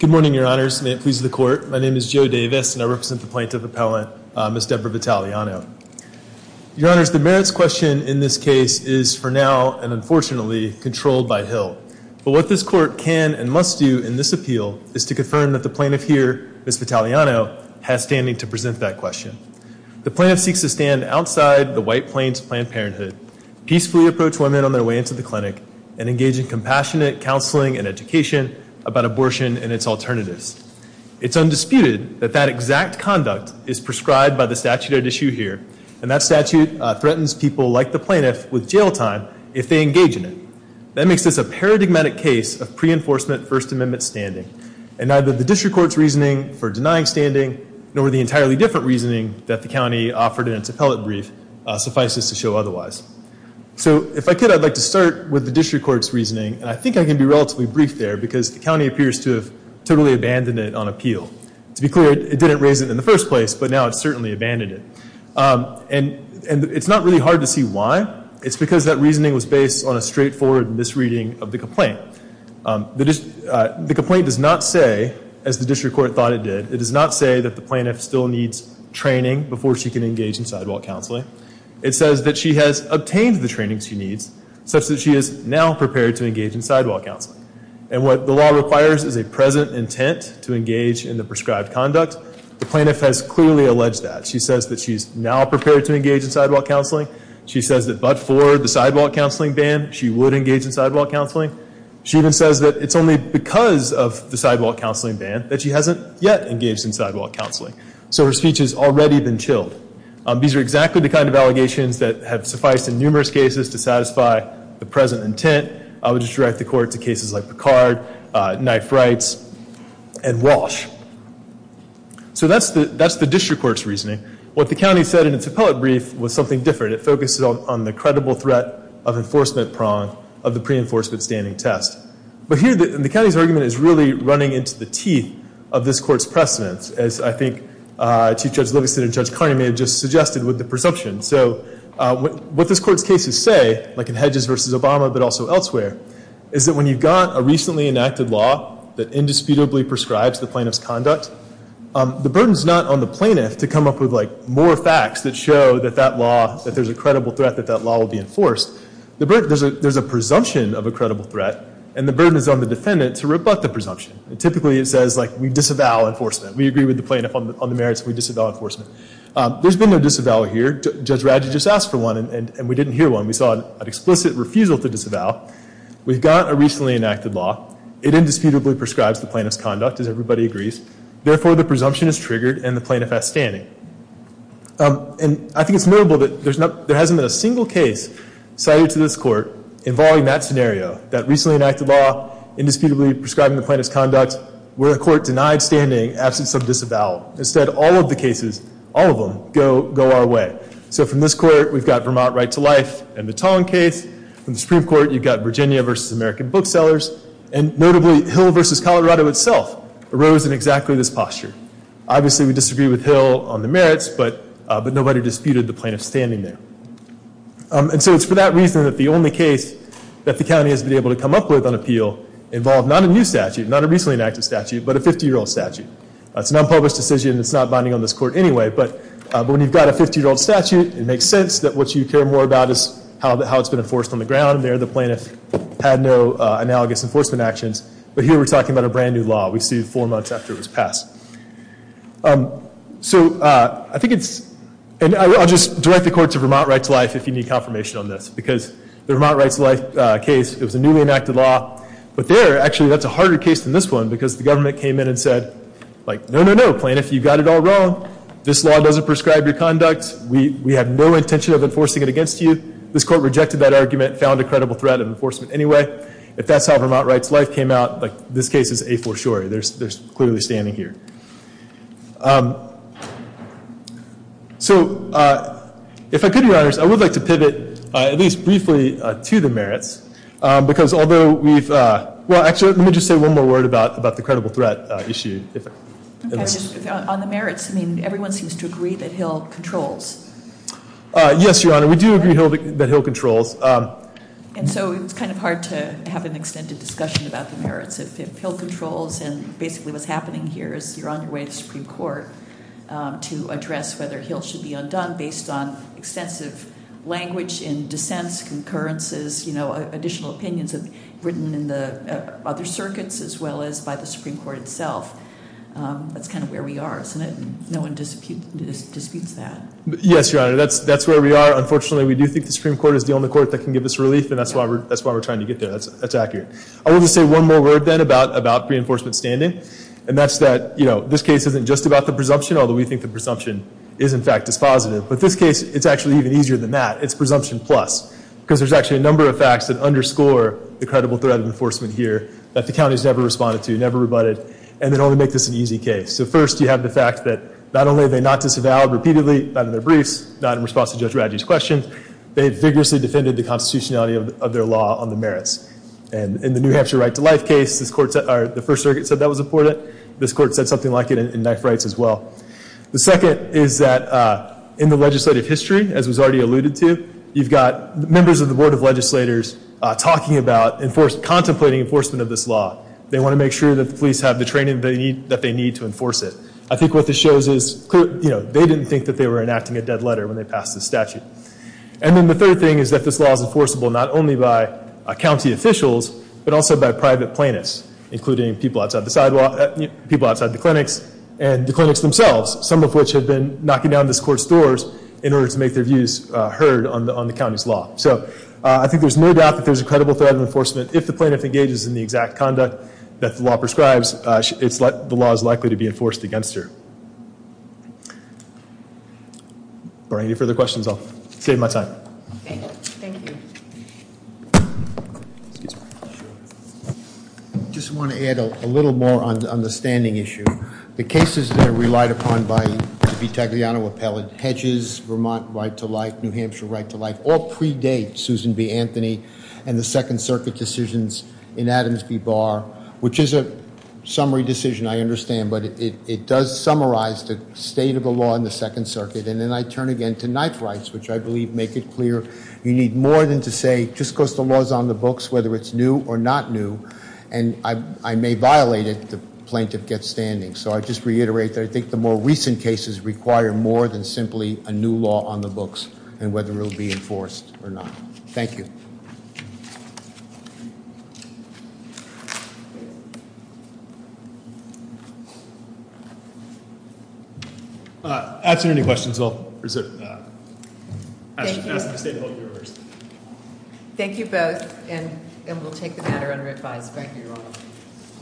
Good morning, your honors. May it please the court. My name is Joe Davis and I represent the plaintiff appellant, Ms. Deborah Vitaliano. Your honors, the merits question in this case is for now and unfortunately controlled by Hill. But what this court can and must do in this appeal is to confirm that the plaintiff here, Ms. Vitaliano, has standing to present that question. The plaintiff seeks to stand outside the White Plains Planned Parenthood, peacefully approach women on their way into the clinic, and engage in compassionate counseling and education about abortion and its alternatives. It's undisputed that that exact conduct is prescribed by the statute at issue here, and that statute threatens people like the plaintiff with jail time if they engage in it. That makes this a paradigmatic case of pre-enforcement First Amendment standing. And neither the district court's reasoning for denying standing, nor the entirely different reasoning that the county offered in its appellate brief, suffices to show otherwise. So if I could, I'd like to start with the district court's reasoning, and I think I can be relatively brief there because the county appears to have totally abandoned it on appeal. To be clear, it didn't raise it in the first place, but now it's certainly abandoned it. And it's not really hard to see why. It's because that reasoning was based on a straightforward misreading of the complaint. The complaint does not say, as the district court thought it did, it does not say that the plaintiff still needs training before she can engage in sidewalk counseling. It says that she has obtained the training she needs, such that she is now prepared to engage in sidewalk counseling. And what the law requires is a present intent to engage in the prescribed conduct. The plaintiff has clearly alleged that. She says that she's now prepared to engage in sidewalk counseling. She says that but for the sidewalk counseling ban, she would engage in sidewalk counseling. She even says that it's only because of the sidewalk counseling ban that she hasn't yet engaged in sidewalk counseling. So her speech has already been chilled. These are exactly the kind of allegations that have sufficed in numerous cases to satisfy the present intent. I would just direct the court to cases like Picard, Knife Rights, and Walsh. So that's the district court's reasoning. What the county said in its appellate brief was something different. It focuses on the credible threat of enforcement prong of the pre-enforcement standing test. But here the county's argument is really running into the teeth of this court's precedence, as I think Chief Judge Livingston and Judge Carney may have just suggested with the presumption. So what this court's cases say, like in Hedges v. Obama but also elsewhere, is that when you've got a recently enacted law that indisputably prescribes the plaintiff's conduct, the burden's not on the plaintiff to come up with more facts that show that there's a credible threat, that that law will be enforced. There's a presumption of a credible threat, and the burden is on the defendant to rebut the presumption. Typically it says, like, we disavow enforcement. We agree with the plaintiff on the merits and we disavow enforcement. There's been no disavow here. Judge Radge just asked for one and we didn't hear one. We saw an explicit refusal to disavow. We've got a recently enacted law. It indisputably prescribes the plaintiff's conduct, as everybody agrees. Therefore, the presumption is triggered and the plaintiff has standing. And I think it's notable that there hasn't been a single case cited to this court involving that scenario, that recently enacted law indisputably prescribing the plaintiff's conduct, where the court denied standing absent some disavow. Instead, all of the cases, all of them, go our way. So from this court, we've got Vermont Right to Life and the Tong case. From the Supreme Court, you've got Virginia v. American Booksellers, and notably Hill v. Colorado itself arose in exactly this posture. Obviously we disagree with Hill on the merits, but nobody disputed the plaintiff's standing there. And so it's for that reason that the only case that the county has been able to come up with on appeal involved not a new statute, not a recently enacted statute, but a 50-year-old statute. It's an unpublished decision that's not binding on this court anyway, but when you've got a 50-year-old statute, it makes sense that what you care more about is how it's been enforced on the ground. There the plaintiff had no analogous enforcement actions, but here we're talking about a brand new law. We see it four months after it was passed. So I think it's – and I'll just direct the court to Vermont Right to Life if you need confirmation on this, because the Vermont Right to Life case, it was a newly enacted law, but there actually that's a harder case than this one because the government came in and said, like, no, no, no, plaintiff, you've got it all wrong. This law doesn't prescribe your conduct. We have no intention of enforcing it against you. This court rejected that argument, found a credible threat of enforcement anyway. If that's how Vermont Right to Life came out, this case is a-for-sure. They're clearly standing here. So if I could, Your Honors, I would like to pivot at least briefly to the merits, because although we've – well, actually, let me just say one more word about the credible threat issue. On the merits, I mean, everyone seems to agree that Hill controls. Yes, Your Honor, we do agree that Hill controls. And so it's kind of hard to have an extended discussion about the merits. If Hill controls and basically what's happening here is you're on your way to the Supreme Court to address whether language in dissents, concurrences, you know, additional opinions have written in the other circuits as well as by the Supreme Court itself. That's kind of where we are, isn't it? No one disputes that. Yes, Your Honor, that's where we are. Unfortunately, we do think the Supreme Court is the only court that can give us relief, and that's why we're trying to get there. That's accurate. I will just say one more word, then, about pre-enforcement standing, and that's that, you know, this case isn't just about the presumption, although we think the presumption is, in fact, dispositive. But this case, it's actually even easier than that. It's presumption plus because there's actually a number of facts that underscore the credible threat of enforcement here that the counties never responded to, never rebutted, and that only make this an easy case. So, first, you have the fact that not only are they not disavowed repeatedly, not in their briefs, not in response to Judge Radji's questions, they have vigorously defended the constitutionality of their law on the merits. And in the New Hampshire right to life case, the First Circuit said that was important. This court said something like it in knife rights as well. The second is that in the legislative history, as was already alluded to, you've got members of the Board of Legislators talking about contemplating enforcement of this law. They want to make sure that the police have the training that they need to enforce it. I think what this shows is, you know, they didn't think that they were enacting a dead letter when they passed this statute. And then the third thing is that this law is enforceable not only by county officials, but also by private plaintiffs, including people outside the sidewalk, people outside the clinics, and the clinics themselves, some of which have been knocking down this court's doors in order to make their views heard on the county's law. So I think there's no doubt that there's a credible threat of enforcement. If the plaintiff engages in the exact conduct that the law prescribes, the law is likely to be enforced against her. If there are any further questions, I'll save my time. Thank you. Excuse me. I just want to add a little more on the standing issue. The cases that are relied upon by the Vitagliano appellate, hedges, Vermont right to life, New Hampshire right to life, all predate Susan B. Anthony and the Second Circuit decisions in Adams v. Barr, which is a summary decision, I understand, but it does summarize the state of the law in the Second Circuit. And then I turn again to knife rights, which I believe make it clear you need more than to say just because the law is on the books, whether it's new or not new, and I may violate it, the plaintiff gets standing. So I just reiterate that I think the more recent cases require more than simply a new law on the books and whether it will be enforced or not. Thank you. Thank you. After any questions, I'll present. Thank you. Thank you both.